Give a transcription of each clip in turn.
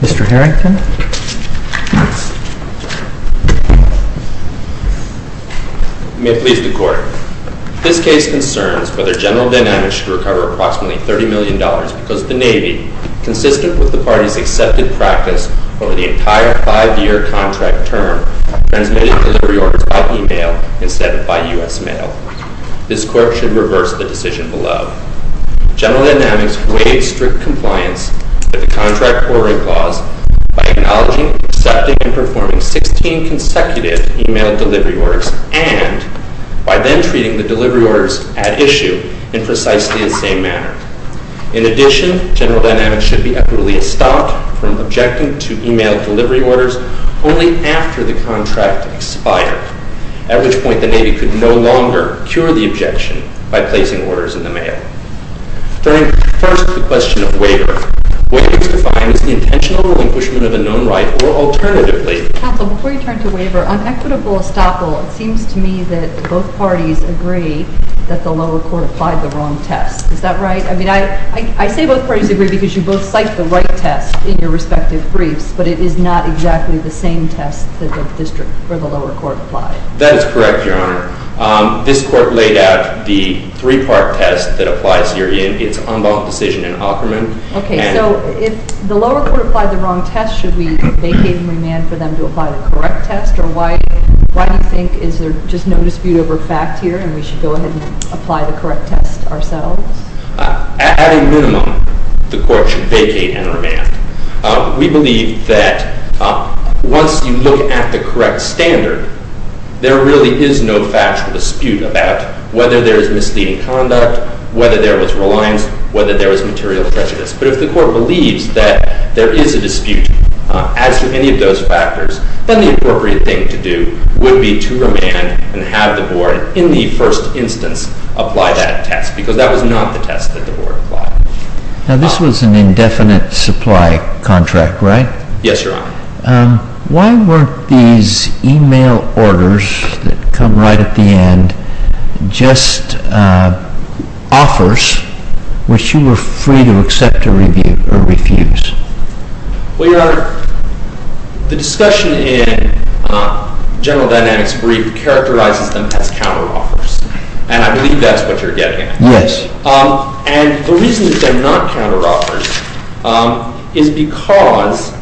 Mr. Harrington? May it please the Court, This case concerns whether General Dynamics should recover approximately $30 million because the Navy, consistent with the Party's accepted practice over the entire five-year contract term, transmitted delivery orders by e-mail instead of by U.S. mail. This Court should reverse the decision below. General Dynamics waived strict compliance with the contract ordering clause by acknowledging, accepting, and performing 16 consecutive e-mail delivery orders and by then treating the delivery orders at issue in precisely the same manner. In addition, General Dynamics should be utterly stopped from objecting to e-mail delivery orders only after the contract expired, at which point the Navy could no longer cure the objection by placing orders in the mail. Turning first to the question of waiver, what needs to be defined is the intentional relinquishment of a known right or alternatively Counsel, before you turn to waiver, on equitable estoppel, it seems to me that both parties agree that the lower court applied the wrong test. Is that right? I mean, I say both parties agree because you both cite the right test in your respective briefs, but it is not exactly the same test that the district or the lower court applied. That is correct, Your Honor. This Court laid out the three-part test that applies herein. It's unbalanced decision in Aukerman. Okay, so if the lower court applied the wrong test, should we vacate and remand for them to apply the correct test? Or why do you think is there just no dispute over fact here and we should go ahead and apply the correct test ourselves? At a minimum, the Court should vacate and remand. We believe that once you look at the correct standard, there really is no factual dispute about whether there is misleading conduct, whether there was reliance, whether there was material prejudice. But if the Court believes that there is a dispute as to any of those factors, then the appropriate thing to do would be to remand and have the Board in the first instance apply that test because that was not the test that the Board applied. Now, this was an indefinite supply contract, right? Yes, Your Honor. Why weren't these e-mail orders that come right at the end just offers which you were free to accept or refuse? Well, Your Honor, the discussion in General Dynamics brief characterizes them as counter-offers, and I believe that's what you're getting at. Yes. And the reason that they're not counter-offers is because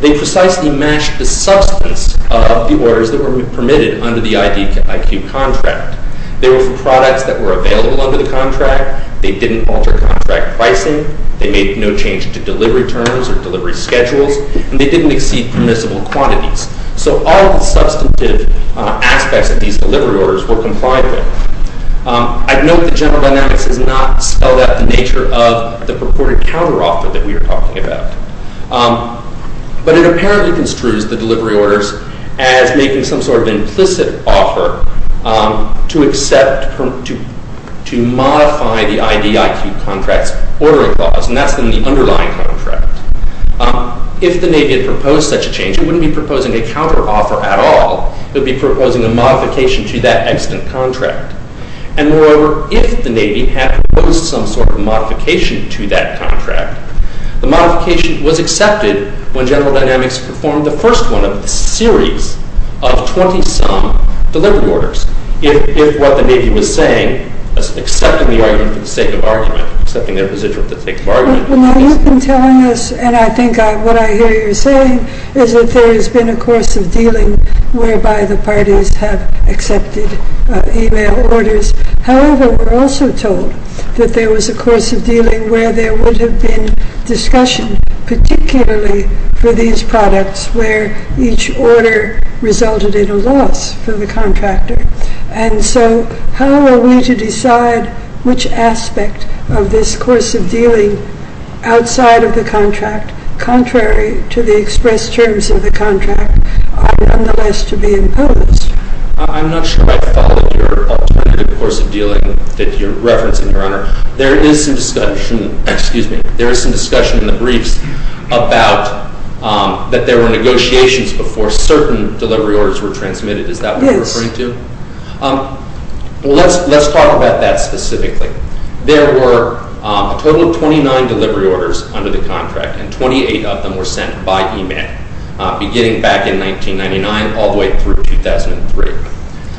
they precisely match the substance of the orders that were permitted under the I.Q. contract. They were for products that were available under the contract. They didn't alter contract pricing. They made no change to delivery terms or delivery schedules, and they didn't exceed permissible quantities. So all of the substantive aspects of these delivery orders were complied with. I'd note that General Dynamics has not spelled out the nature of the purported counter-offer that we are talking about, but it apparently construes the delivery orders as making some sort of implicit offer to modify the I.D.I.Q. contract's ordering laws, and that's in the underlying contract. If the Navy had proposed such a change, it wouldn't be proposing a counter-offer at all. It would be proposing a modification to that extant contract. And moreover, if the Navy had proposed some sort of modification to that contract, the modification was accepted when General Dynamics performed the first one of a series of 20-some delivery orders. If what the Navy was saying, accepting the argument for the sake of argument, accepting their position for the sake of argument... Well, you've been telling us, and I think what I hear you saying, is that there has been a course of dealing whereby the parties have accepted e-mail orders. However, we're also told that there was a course of dealing where there would have been discussion, particularly for these products, where each order resulted in a loss for the contractor. And so how are we to decide which aspect of this course of dealing outside of the contract, contrary to the expressed terms of the contract, are nonetheless to be imposed? I'm not sure I followed your alternative course of dealing that you're referencing, Your Honor. There is some discussion in the briefs about that there were negotiations before certain delivery orders were transmitted. Is that what you're referring to? Yes. Well, let's talk about that specifically. There were a total of 29 delivery orders under the contract, and 28 of them were sent by e-mail, beginning back in 1999 all the way through 2003.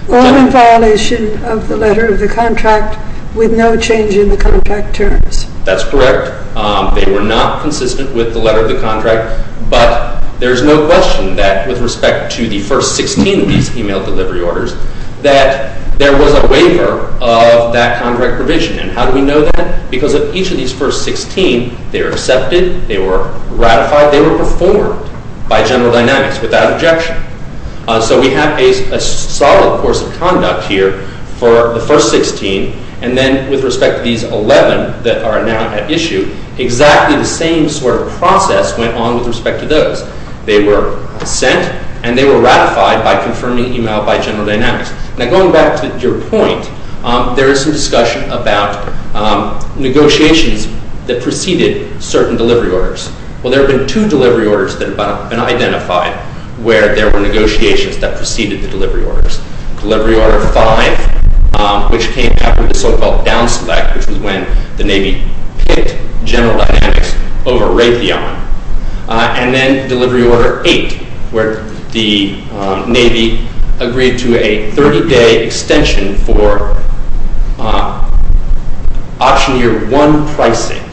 All in violation of the letter of the contract with no change in the contract terms. That's correct. They were not consistent with the letter of the contract, but there's no question that, with respect to the first 16 of these e-mail delivery orders, that there was a waiver of that contract provision. And how do we know that? Because of each of these first 16, they were accepted, they were ratified, they were performed by General Dynamics without objection. So we have a solid course of conduct here for the first 16, and then with respect to these 11 that are now at issue, exactly the same sort of process went on with respect to those. They were sent, and they were ratified by confirming e-mail by General Dynamics. Now, going back to your point, there is some discussion about negotiations that preceded certain delivery orders. Well, there have been two delivery orders that have been identified where there were negotiations that preceded the delivery orders. Delivery Order 5, which came after the so-called down-select, which was when the Navy picked General Dynamics over Raytheon, and then Delivery Order 8, where the Navy agreed to a 30-day extension for option year 1 pricing.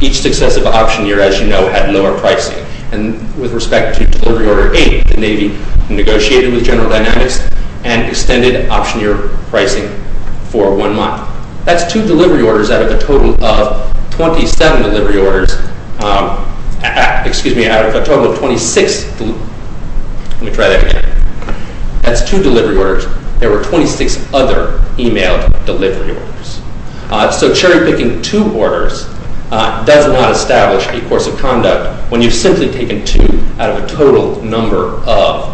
Each successive option year, as you know, had lower pricing. And with respect to Delivery Order 8, the Navy negotiated with General Dynamics and extended option year pricing for one month. That's two delivery orders out of a total of 27 delivery orders. Excuse me, out of a total of 26. Let me try that again. That's two delivery orders. There were 26 other e-mail delivery orders. So cherry-picking two orders does not establish a course of conduct when you've simply taken two out of a total number of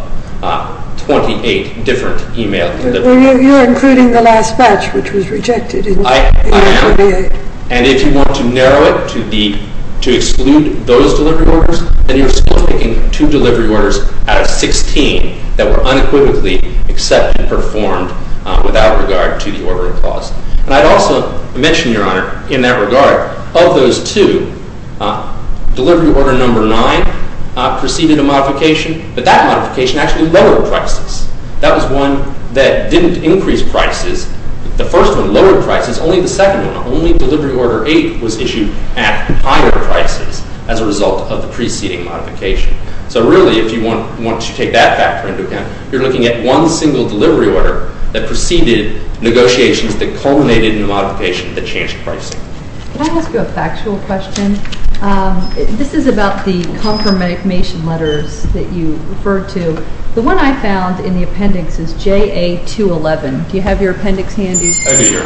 28 different e-mail deliveries. You're including the last batch, which was rejected in 2008. I am. And if you want to narrow it to exclude those delivery orders, then you're still picking two delivery orders out of 16 that were unequivocally accepted and performed without regard to the ordering clause. And I'd also mention, Your Honor, in that regard, of those two, Delivery Order 9 preceded a modification, but that modification actually lowered prices. That was one that didn't increase prices. The first one lowered prices. Only the second one, only Delivery Order 8, was issued at higher prices as a result of the preceding modification. So really, once you take that factor into account, you're looking at one single delivery order that preceded negotiations that culminated in a modification that changed pricing. Can I ask you a factual question? This is about the confirmation letters that you referred to. The one I found in the appendix is JA-211. Do you have your appendix handy? I do, Your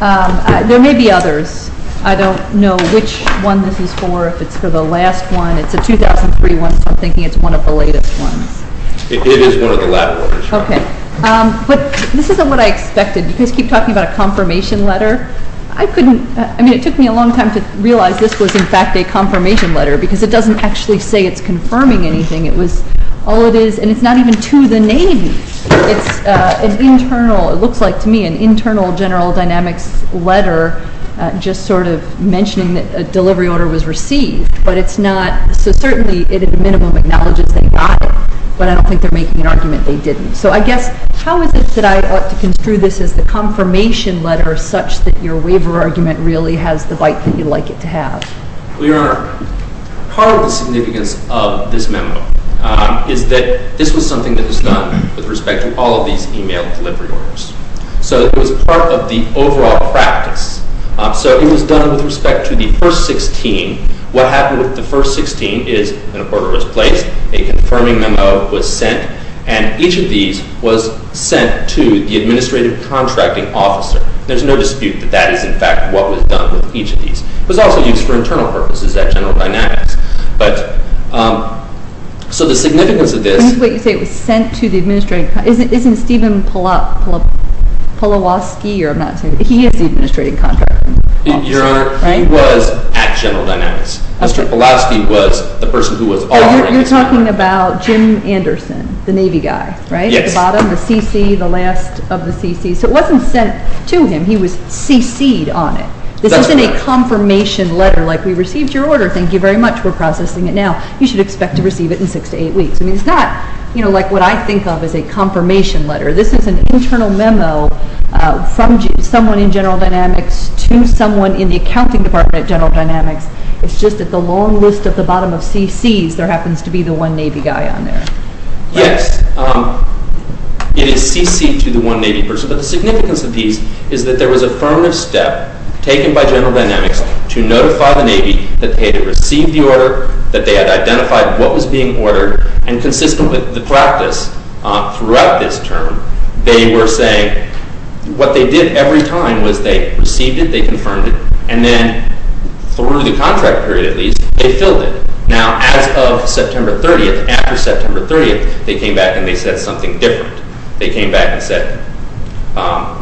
Honor. There may be others. I don't know which one this is for. If it's for the last one. It's a 2003 one, so I'm thinking it's one of the latest ones. It is one of the last ones. Okay. But this isn't what I expected. You guys keep talking about a confirmation letter. I couldn't. I mean, it took me a long time to realize this was, in fact, a confirmation letter because it doesn't actually say it's confirming anything. It was all it is, and it's not even to the Navy. It's an internal. It looks like, to me, an internal General Dynamics letter just sort of mentioning that a delivery order was received. But it's not. So certainly it at a minimum acknowledges they got it, but I don't think they're making an argument they didn't. So I guess how is it that I ought to construe this as the confirmation letter such that your waiver argument really has the bite that you'd like it to have? Well, Your Honor, part of the significance of this memo is that this was something that was done with respect to all of these e-mail delivery orders. So it was part of the overall practice. So it was done with respect to the first 16. What happened with the first 16 is an order was placed, a confirming memo was sent, and each of these was sent to the administrative contracting officer. There's no dispute that that is, in fact, what was done with each of these. It was also used for internal purposes at General Dynamics. So the significance of this— Wait, you say it was sent to the administrative—isn't Stephen Polowski, or I'm not saying— he is the administrative contracting officer, right? Your Honor, he was at General Dynamics. Mr. Polowski was the person who was offering this— Oh, you're talking about Jim Anderson, the Navy guy, right? Yes. At the bottom, the CC, the last of the CCs. So it wasn't sent to him. He was CC'd on it. This isn't a confirmation letter like, we received your order, thank you very much, we're processing it now. You should expect to receive it in six to eight weeks. I mean, it's not like what I think of as a confirmation letter. This is an internal memo from someone in General Dynamics to someone in the accounting department at General Dynamics. It's just that the long list at the bottom of CCs, there happens to be the one Navy guy on there. Yes, it is CC'd to the one Navy person. But the significance of these is that there was a affirmative step taken by General Dynamics to notify the Navy that they had received the order, that they had identified what was being ordered, and consistent with the practice throughout this term, they were saying, what they did every time was they received it, they confirmed it, and then through the contract period at least, they filled it. Now, as of September 30th, after September 30th, they came back and they said something different. They came back and said,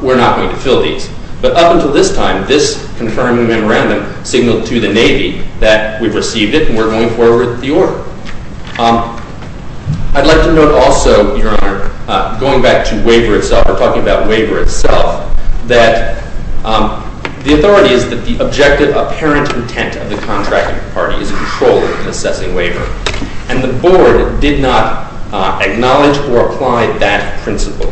we're not going to fill these. But up until this time, this confirming memorandum signaled to the Navy that we've received it and we're going forward with the order. I'd like to note also, Your Honor, going back to waiver itself, we're talking about waiver itself, that the authority is that the objective apparent intent of the contracting party is controlling and assessing waiver. And the Board did not acknowledge or apply that principle.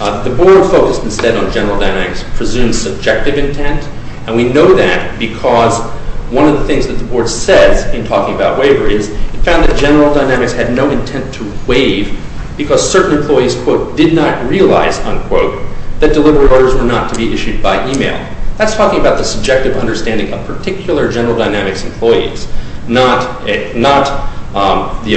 The Board focused instead on General Dynamics' presumed subjective intent, and we know that because one of the things that the Board says in talking about waiver is it found that General Dynamics had no intent to waive because certain employees, quote, did not realize, unquote, that delivery orders were not to be issued by email. That's talking about the subjective understanding of particular General Dynamics employees, not the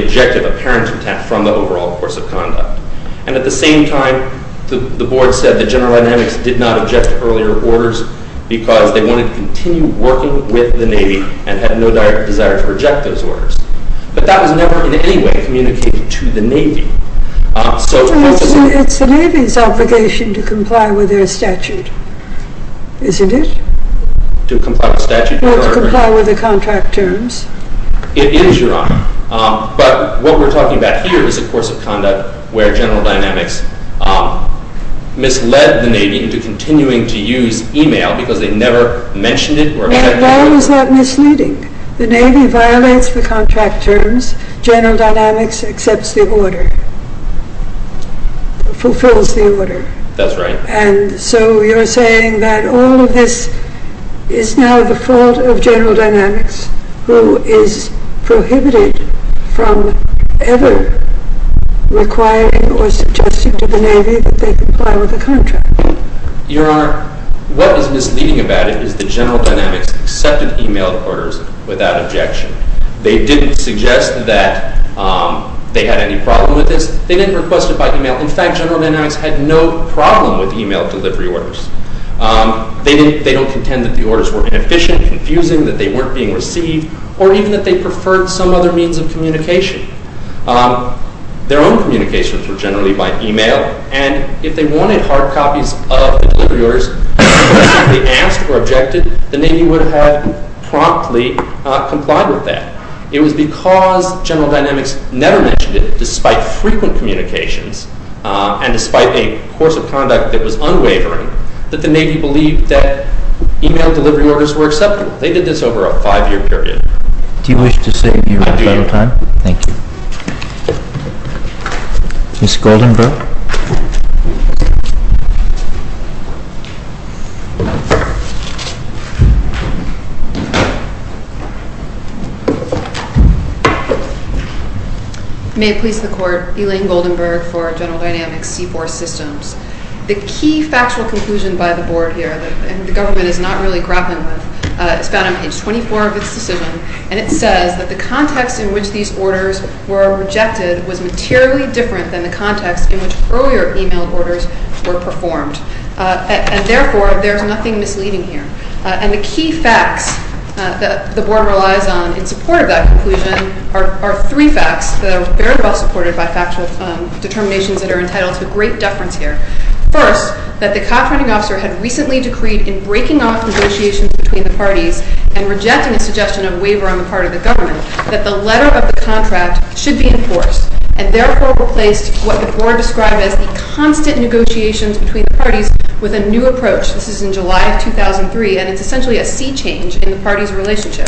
objective apparent intent from the overall course of conduct. And at the same time, the Board said that General Dynamics did not object to earlier orders because they wanted to continue working with the Navy and had no direct desire to reject those orders. But that was never in any way communicated to the Navy. It's the Navy's obligation to comply with their statute, isn't it? To comply with statute, Your Honor? Well, to comply with the contract terms. It is, Your Honor. But what we're talking about here is a course of conduct where General Dynamics misled the Navy into continuing to use email because they never mentioned it or objected to it. Now, why was that misleading? The Navy violates the contract terms. General Dynamics accepts the order, fulfills the order. That's right. And so you're saying that all of this is now the fault of General Dynamics who is prohibited from ever requiring or suggesting to the Navy that they comply with the contract. Your Honor, what is misleading about it is that General Dynamics accepted email orders without objection. They didn't suggest that they had any problem with this. They didn't request it by email. In fact, General Dynamics had no problem with email delivery orders. They don't contend that the orders were inefficient, confusing, that they weren't being received, or even that they preferred some other means of communication. Their own communications were generally by email, and if they wanted hard copies of the delivery orders, and they asked or objected, the Navy would have promptly complied with that. It was because General Dynamics never mentioned it, despite frequent communications and despite a course of conduct that was unwavering, that the Navy believed that email delivery orders were acceptable. They did this over a five-year period. Do you wish to say anything? I do. Thank you. Ms. Goldenberg? May it please the Court, Elaine Goldenberg for General Dynamics C4 Systems. The key factual conclusion by the Board here, that the government is not really grappling with, is found on page 24 of its decision, and it says that the context in which these orders were rejected was materially different than the context in which earlier email orders were performed. And therefore, there's nothing misleading here. And the key facts that the Board relies on in support of that conclusion are three facts that are very well supported by factual determinations that are entitled to great deference here. in breaking off negotiations between the parties and rejecting a suggestion of waiver on the part of the government, that the letter of the contract should be enforced, and therefore replaced what the Board described as the constant negotiations between the parties with a new approach. This is in July of 2003, and it's essentially a sea change in the parties' relationship.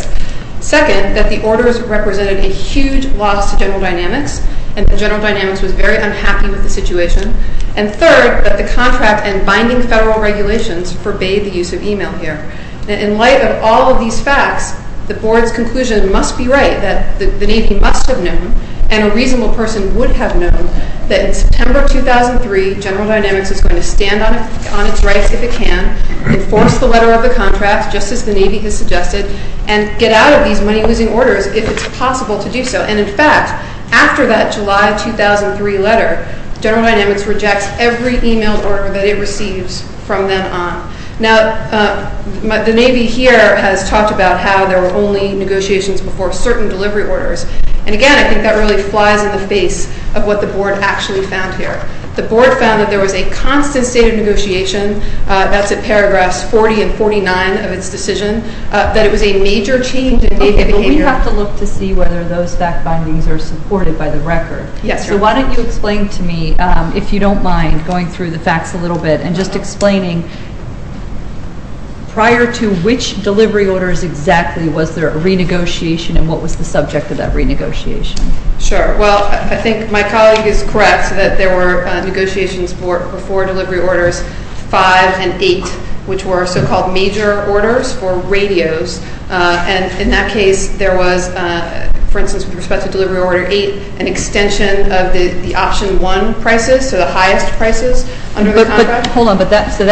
Second, that the orders represented a huge loss to General Dynamics, and that General Dynamics was very unhappy with the situation. And third, that the contract and binding federal regulations forbade the use of email here. In light of all of these facts, the Board's conclusion must be right, that the Navy must have known, and a reasonable person would have known, that in September 2003, General Dynamics is going to stand on its rights if it can, enforce the letter of the contract, just as the Navy has suggested, and get out of these money-losing orders if it's possible to do so. And in fact, after that July 2003 letter, General Dynamics rejects every email order that it receives from then on. Now, the Navy here has talked about how there were only negotiations before certain delivery orders, and again, I think that really flies in the face of what the Board actually found here. The Board found that there was a constant state of negotiation, that's at paragraphs 40 and 49 of its decision, that it was a major change in Navy behavior. But we have to look to see whether those fact bindings are supported by the record. So why don't you explain to me, if you don't mind, going through the facts a little bit, and just explaining prior to which delivery orders exactly was there a renegotiation, and what was the subject of that renegotiation? Sure. Well, I think my colleague is correct, that there were negotiations before delivery orders 5 and 8, which were so-called major orders for radios. And in that case, there was, for instance, with respect to delivery order 8, an extension of the option 1 prices, so the highest prices under the contract. But hold on. So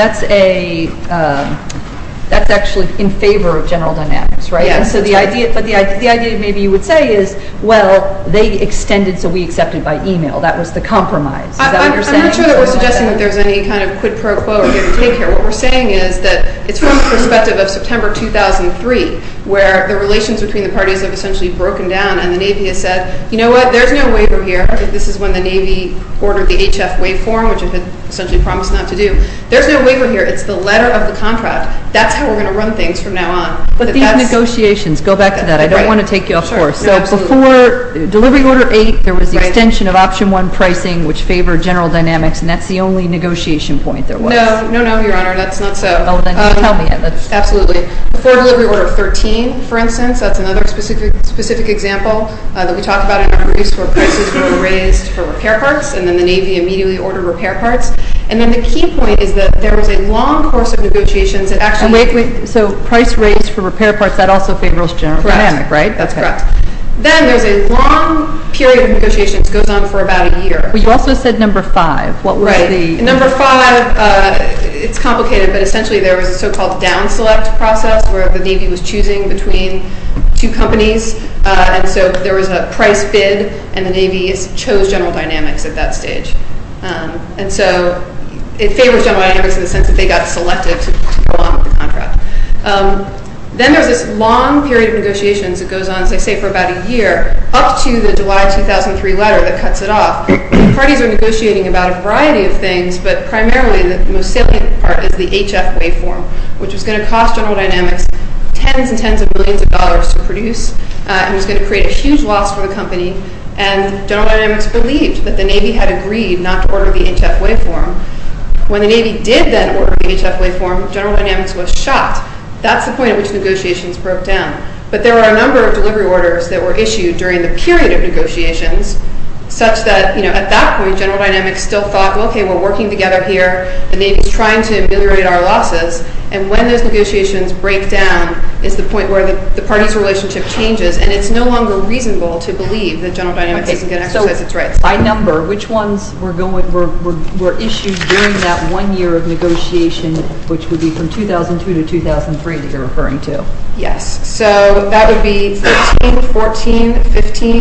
that's actually in favor of general dynamics, right? Yes. But the idea maybe you would say is, well, they extended so we accepted by e-mail. That was the compromise. Is that what you're saying? I'm not sure that we're suggesting that there's any kind of quid pro quo or give and take here. What we're saying is that it's from the perspective of September 2003, where the relations between the parties have essentially broken down, and the Navy has said, you know what, there's no waiver here. This is when the Navy ordered the HF waveform, which it had essentially promised not to do. There's no waiver here. It's the letter of the contract. That's how we're going to run things from now on. But these negotiations, go back to that. I don't want to take you off course. So before delivery order 8, there was the extension of option 1 pricing, which favored general dynamics, and that's the only negotiation point there was. No, no, no, Your Honor. That's not so. Oh, then tell me. Absolutely. Before delivery order 13, for instance, that's another specific example that we talked about in our briefs where prices were raised for repair parts, and then the Navy immediately ordered repair parts. And then the key point is that there was a long course of negotiations that actually... Wait, wait. So price raised for repair parts, that also favors general dynamics, right? Correct. That's correct. Then there's a long period of negotiations that goes on for about a year. But you also said number 5. What was the... Right. Number 5, it's complicated, but essentially there was a so-called down-select process where the Navy was choosing between two companies, and so there was a price bid, and the Navy chose general dynamics at that stage. And so it favors general dynamics in the sense that they got selected to go on with the contract. Then there's this long period of negotiations that goes on, as I say, for about a year, up to the July 2003 letter that cuts it off. Parties are negotiating about a variety of things, but primarily the most salient part is the HF waveform, which is going to cost general dynamics tens and tens of millions of dollars to produce, and it's going to create a huge loss for the company. And general dynamics believed that the Navy had agreed not to order the HF waveform. When the Navy did then order the HF waveform, general dynamics was shot. That's the point at which negotiations broke down. But there were a number of delivery orders that were issued during the period of negotiations, such that, you know, at that point, general dynamics still thought, okay, we're working together here, the Navy's trying to ameliorate our losses, and when those negotiations break down is the point where the party's relationship changes, and it's no longer reasonable to believe that general dynamics isn't going to exercise its rights. Okay, so by number, which ones were issued during that one year of negotiation, which would be from 2002 to 2003 that you're referring to? Yes, so that would be 13, 14, 15,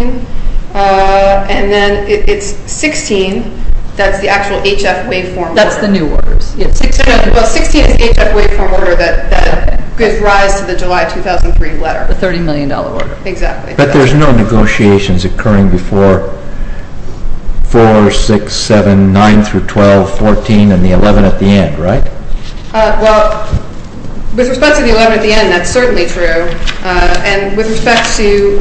and then it's 16, that's the actual HF waveform order. That's the new orders. Well, 16 is the HF waveform order that gives rise to the July 2003 letter. The $30 million order. Exactly. But there's no negotiations occurring before 4, 6, 7, 9 through 12, 14, and the 11 at the end, right? Well, with respect to the 11 at the end, that's certainly true, and with respect to,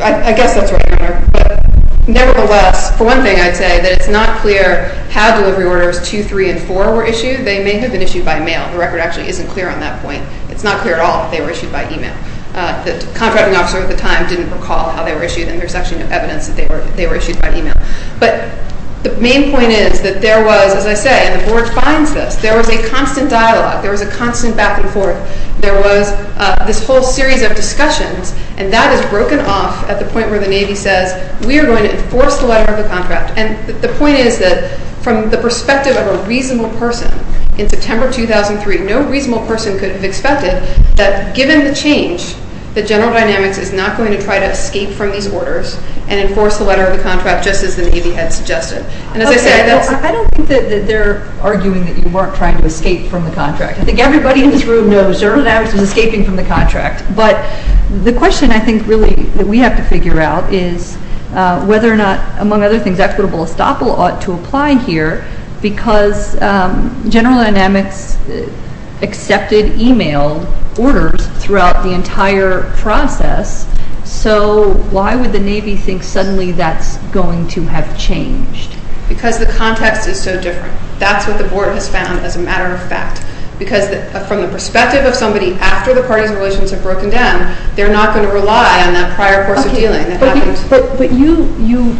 I guess that's what I remember, but nevertheless, for one thing I'd say that it's not clear how delivery orders 2, 3, and 4 were issued. They may have been issued by mail. The record actually isn't clear on that point. It's not clear at all if they were issued by email. The contracting officer at the time didn't recall how they were issued, and there's actually no evidence that they were issued by email, but the main point is that there was, as I say, and the board finds this, there was a constant dialogue. There was a constant back and forth. There was this whole series of discussions, and that is broken off at the point where the Navy says, we are going to enforce the letter of the contract, and the point is that from the perspective of a reasonable person, in September 2003, no reasonable person could have expected that given the change, that General Dynamics is not going to try to escape from these orders and enforce the letter of the contract just as the Navy had suggested, and as I say, that's... Okay. I don't think that they're arguing that you weren't trying to escape from the contract. I think everybody in this room knows General Dynamics was escaping from the contract, but the question I think really that we have to figure out is whether or not, among other things, equitable estoppel ought to apply here because General Dynamics accepted e-mail orders throughout the entire process, so why would the Navy think suddenly that's going to have changed? Because the context is so different. That's what the Board has found as a matter of fact because from the perspective of somebody after the parties and relations have broken down, they're not going to rely on that prior course of dealing. But you...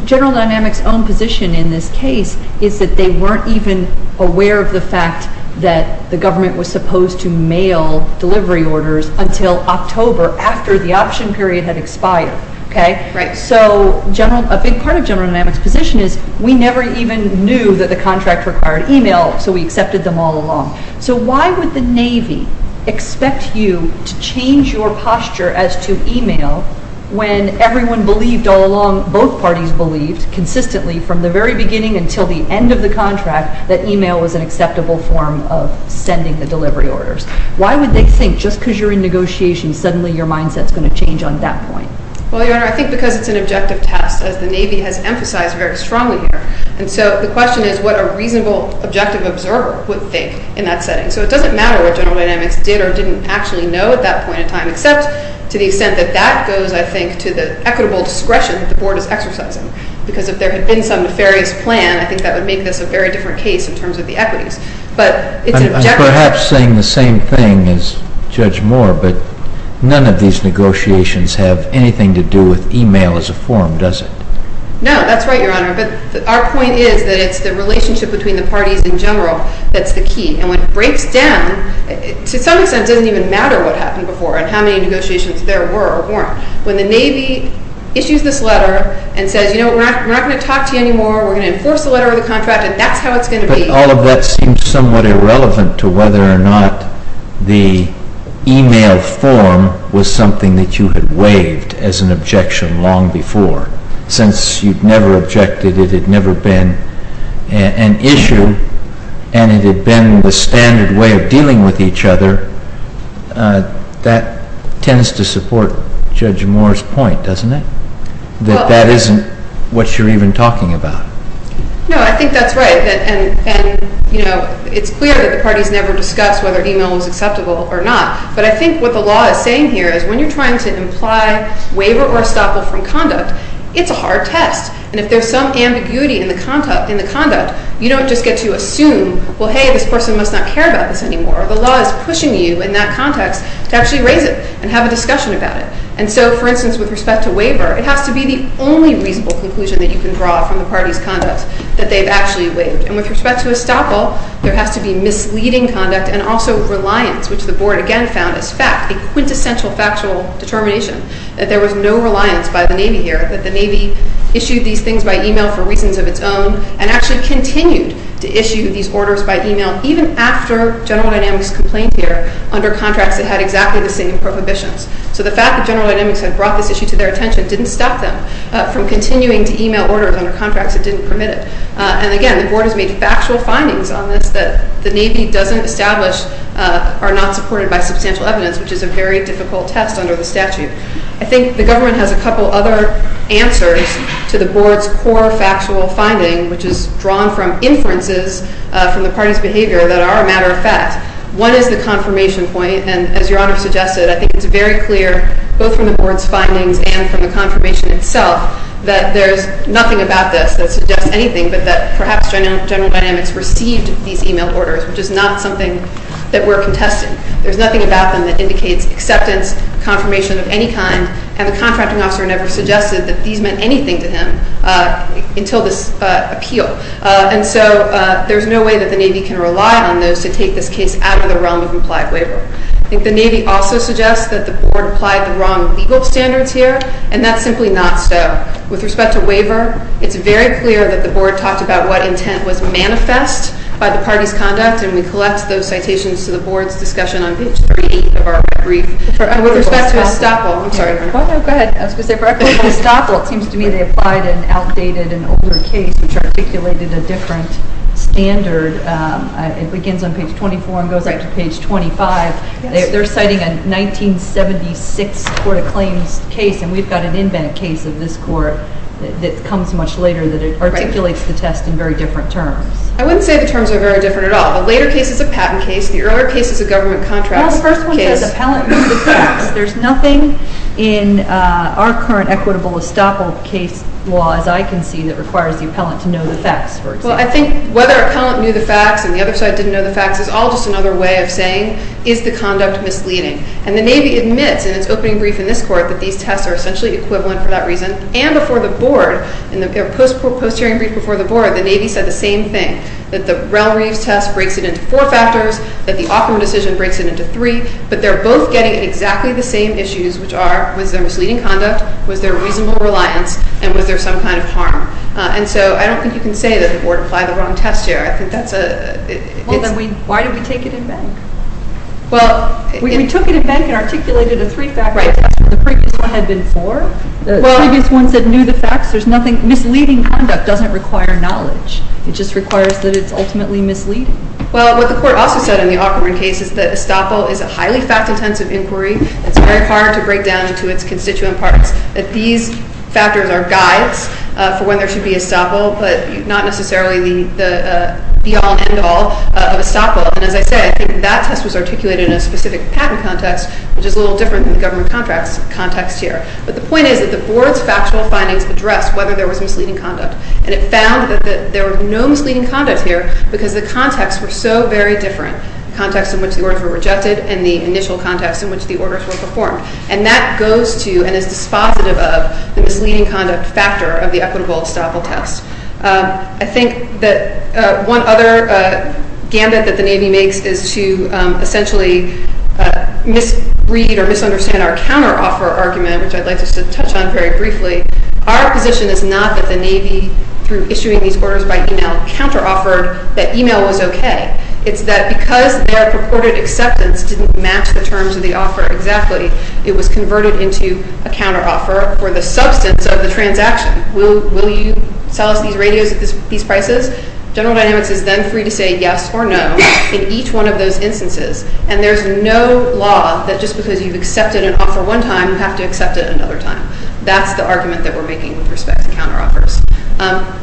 General Dynamics' own position in this case is that they weren't even aware of the fact that the government was supposed to mail delivery orders until October after the option period had expired, okay? Right. So a big part of General Dynamics' position is we never even knew that the contract required e-mail, so we accepted them all along. So why would the Navy expect you to change your posture as to e-mail when everyone believed all along, both parties believed consistently from the very beginning until the end of the contract that e-mail was an acceptable form of sending the delivery orders? Why would they think just because you're in negotiation, suddenly your mindset's going to change on that point? Well, Your Honor, I think because it's an objective test, as the Navy has emphasized very strongly here, and so the question is what a reasonable, objective observer would think in that setting. So it doesn't matter what General Dynamics did or didn't actually know at that point in time except to the extent that that goes, I think, to the equitable discretion that the Board is exercising because if there had been some nefarious plan, I think that would make this a very different case in terms of the equities. I'm perhaps saying the same thing as Judge Moore, but none of these negotiations have anything to do with e-mail as a form, does it? No, that's right, Your Honor, but our point is that it's the relationship between the parties in general that's the key, and when it breaks down, to some extent, it doesn't even matter what happened before and how many negotiations there were or weren't. When the Navy issues this letter and says, you know what, we're not going to talk to you anymore, we're going to enforce the letter of the contract, and that's how it's going to be. But all of that seems somewhat irrelevant to whether or not the e-mail form was something that you had waived as an objection long before. Since you've never objected, it had never been an issue, and it had been the standard way of dealing with each other, that tends to support Judge Moore's point, doesn't it? That that isn't what you're even talking about. No, I think that's right, and it's clear that the parties never discussed whether e-mail was acceptable or not, but I think what the law is saying here is when you're trying to imply waiver or estoppel from conduct, it's a hard test, and if there's some ambiguity in the conduct, you don't just get to assume, well, hey, this person must not care about this anymore. The law is pushing you in that context to actually raise it and have a discussion about it. And so, for instance, with respect to waiver, it has to be the only reasonable conclusion that you can draw from the party's conduct that they've actually waived. And with respect to estoppel, there has to be misleading conduct and also reliance, which the Board again found as fact, a quintessential factual determination, that there was no reliance by the Navy here, that the Navy issued these things by e-mail for reasons of its own and actually continued to issue these orders by e-mail even after General Dynamics complained here under contracts that had exactly the same prohibitions. So the fact that General Dynamics had brought this issue to their attention didn't stop them from continuing to e-mail orders under contracts that didn't permit it. And again, the Board has made factual findings on this that the Navy doesn't establish are not supported by substantial evidence, which is a very difficult test under the statute. I think the government has a couple other answers to the Board's core factual finding, which is drawn from inferences from the party's behavior that are a matter of fact. One is the confirmation point, and as Your Honor suggested, I think it's very clear, both from the Board's findings and from the confirmation itself, that there's nothing about this that suggests anything but that perhaps General Dynamics received these e-mail orders, which is not something that we're contesting. There's nothing about them that indicates acceptance, confirmation of any kind, and the contracting officer never suggested that these meant anything to him until this appeal. And so there's no way that the Navy can rely on those to take this case out of the realm of implied waiver. I think the Navy also suggests that the Board applied the wrong legal standards here, and that's simply not so. With respect to waiver, it's very clear that the Board talked about what intent was manifest by the party's conduct, and we collect those citations to the Board's discussion on page 38 of our brief. With respect to estoppel, I'm sorry. Go ahead. I was going to say, for estoppel, it seems to me they applied an outdated and older case which articulated a different standard. It begins on page 24 and goes up to page 25. They're citing a 1976 court-of-claims case, and we've got an in-bank case of this court that comes much later that articulates the test in very different terms. I wouldn't say the terms are very different at all. The later case is a patent case. The earlier case is a government contract case. Well, the first one says appellant knew the facts. There's nothing in our current equitable estoppel case law, as I can see, that requires the appellant to know the facts, for example. Well, I think whether appellant knew the facts and the other side didn't know the facts is all just another way of saying, is the conduct misleading? And the Navy admits in its opening brief in this court that these tests are essentially equivalent for that reason, and before the Board, in their post-hearing brief before the Board, the Navy said the same thing, that the Rell-Reeves test breaks it into four factors, that the Ockham decision breaks it into three, but they're both getting at exactly the same issues, which are, was there misleading conduct, was there reasonable reliance, and was there some kind of harm? And so I don't think you can say that the Board applied the wrong test here. I think that's a... Well, then why did we take it in bank? Well, we took it in bank and articulated a three-factor test, and the previous one had been four? The previous one said knew the facts. There's nothing... Misleading conduct doesn't require knowledge. It just requires that it's ultimately misleading. Well, what the court also said in the Ockham case is that estoppel is a highly fact-intensive inquiry. It's very hard to break down into its constituent parts, that these factors are guides for when there should be estoppel, but not necessarily the be-all, end-all of estoppel. And as I said, I think that test was articulated in a specific patent context, which is a little different than the government contracts context here. But the point is that the Board's factual findings addressed whether there was misleading conduct, and it found that there was no misleading conduct here because the contexts were so very different, the context in which the orders were rejected and the initial context in which the orders were performed. And that goes to and is dispositive of the misleading conduct factor of the equitable estoppel test. I think that one other gambit that the Navy makes is to essentially misread or misunderstand our counteroffer argument, which I'd like just to touch on very briefly. Our position is not that the Navy, through issuing these orders by email, counteroffered that email was okay. It's that because their purported acceptance didn't match the terms of the offer exactly, it was converted into a counteroffer for the substance of the transaction. Will you sell us these radios at these prices? General Dynamics is then free to say yes or no in each one of those instances. And there's no law that just because you've accepted an offer one time, you have to accept it another time. That's the argument that we're making with respect to counteroffers.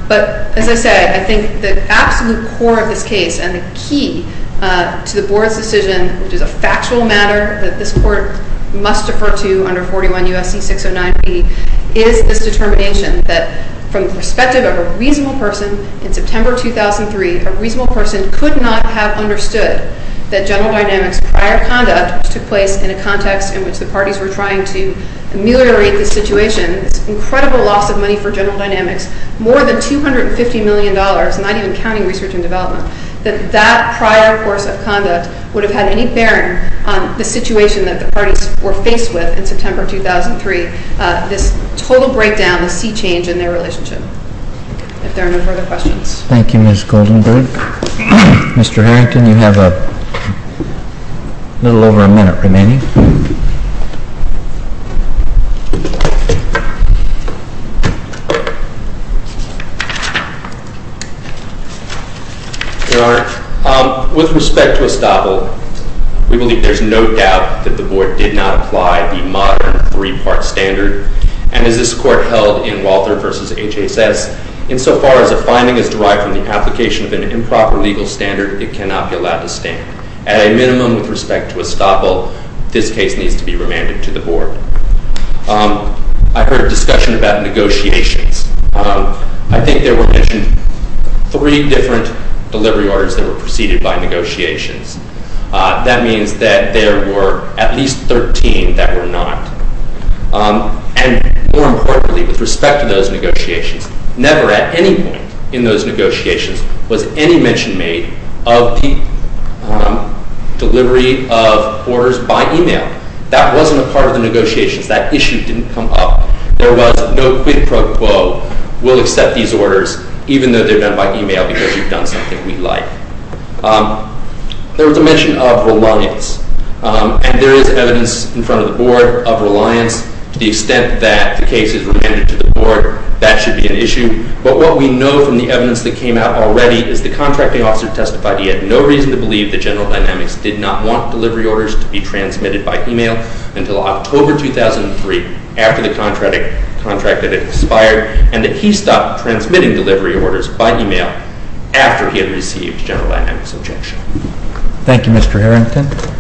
But as I said, I think the absolute core of this case and the key to the Board's decision, which is a factual matter that this Court must defer to under 41 U.S.C. 609B, is this determination that from the perspective of a reasonable person in September 2003, a reasonable person could not have understood that General Dynamics' prior conduct, which took place in a context in which the parties were trying to ameliorate the situation, this incredible loss of money for General Dynamics, not even counting research and development, that that prior course of conduct would have had any bearing on the situation that the parties were faced with in September 2003, this total breakdown, the sea change in their relationship. If there are no further questions. Thank you, Ms. Goldenberg. Mr. Harrington, you have a little over a minute remaining. Your Honor, with respect to estoppel, we believe there's no doubt that the Board did not apply the modern three-part standard. And as this Court held in Walther v. HSS, insofar as a finding is derived from the application of an improper legal standard, it cannot be allowed to stand. insofar as a finding is derived from the application this case needs to be remanded to the Board. I heard discussion about negotiations. I think there were mentioned three different delivery orders that were preceded by negotiations. That means that there were at least 13 that were not. And more importantly, with respect to those negotiations, never at any point in those negotiations was any mention made of the delivery of orders by e-mail. That wasn't a part of the negotiations. That issue didn't come up. There was no quid pro quo. We'll accept these orders even though they're done by e-mail because you've done something we like. There was a mention of reliance. And there is evidence in front of the Board of reliance. To the extent that the case is remanded to the Board, that should be an issue. But what we know from the evidence that came out already is the contracting officer testified he had no reason to believe that General Dynamics did not want delivery orders to be transmitted by e-mail until October 2003 after the contract had expired and that he stopped transmitting delivery orders by e-mail after he had received General Dynamics' objection. Thank you, Mr. Harrington.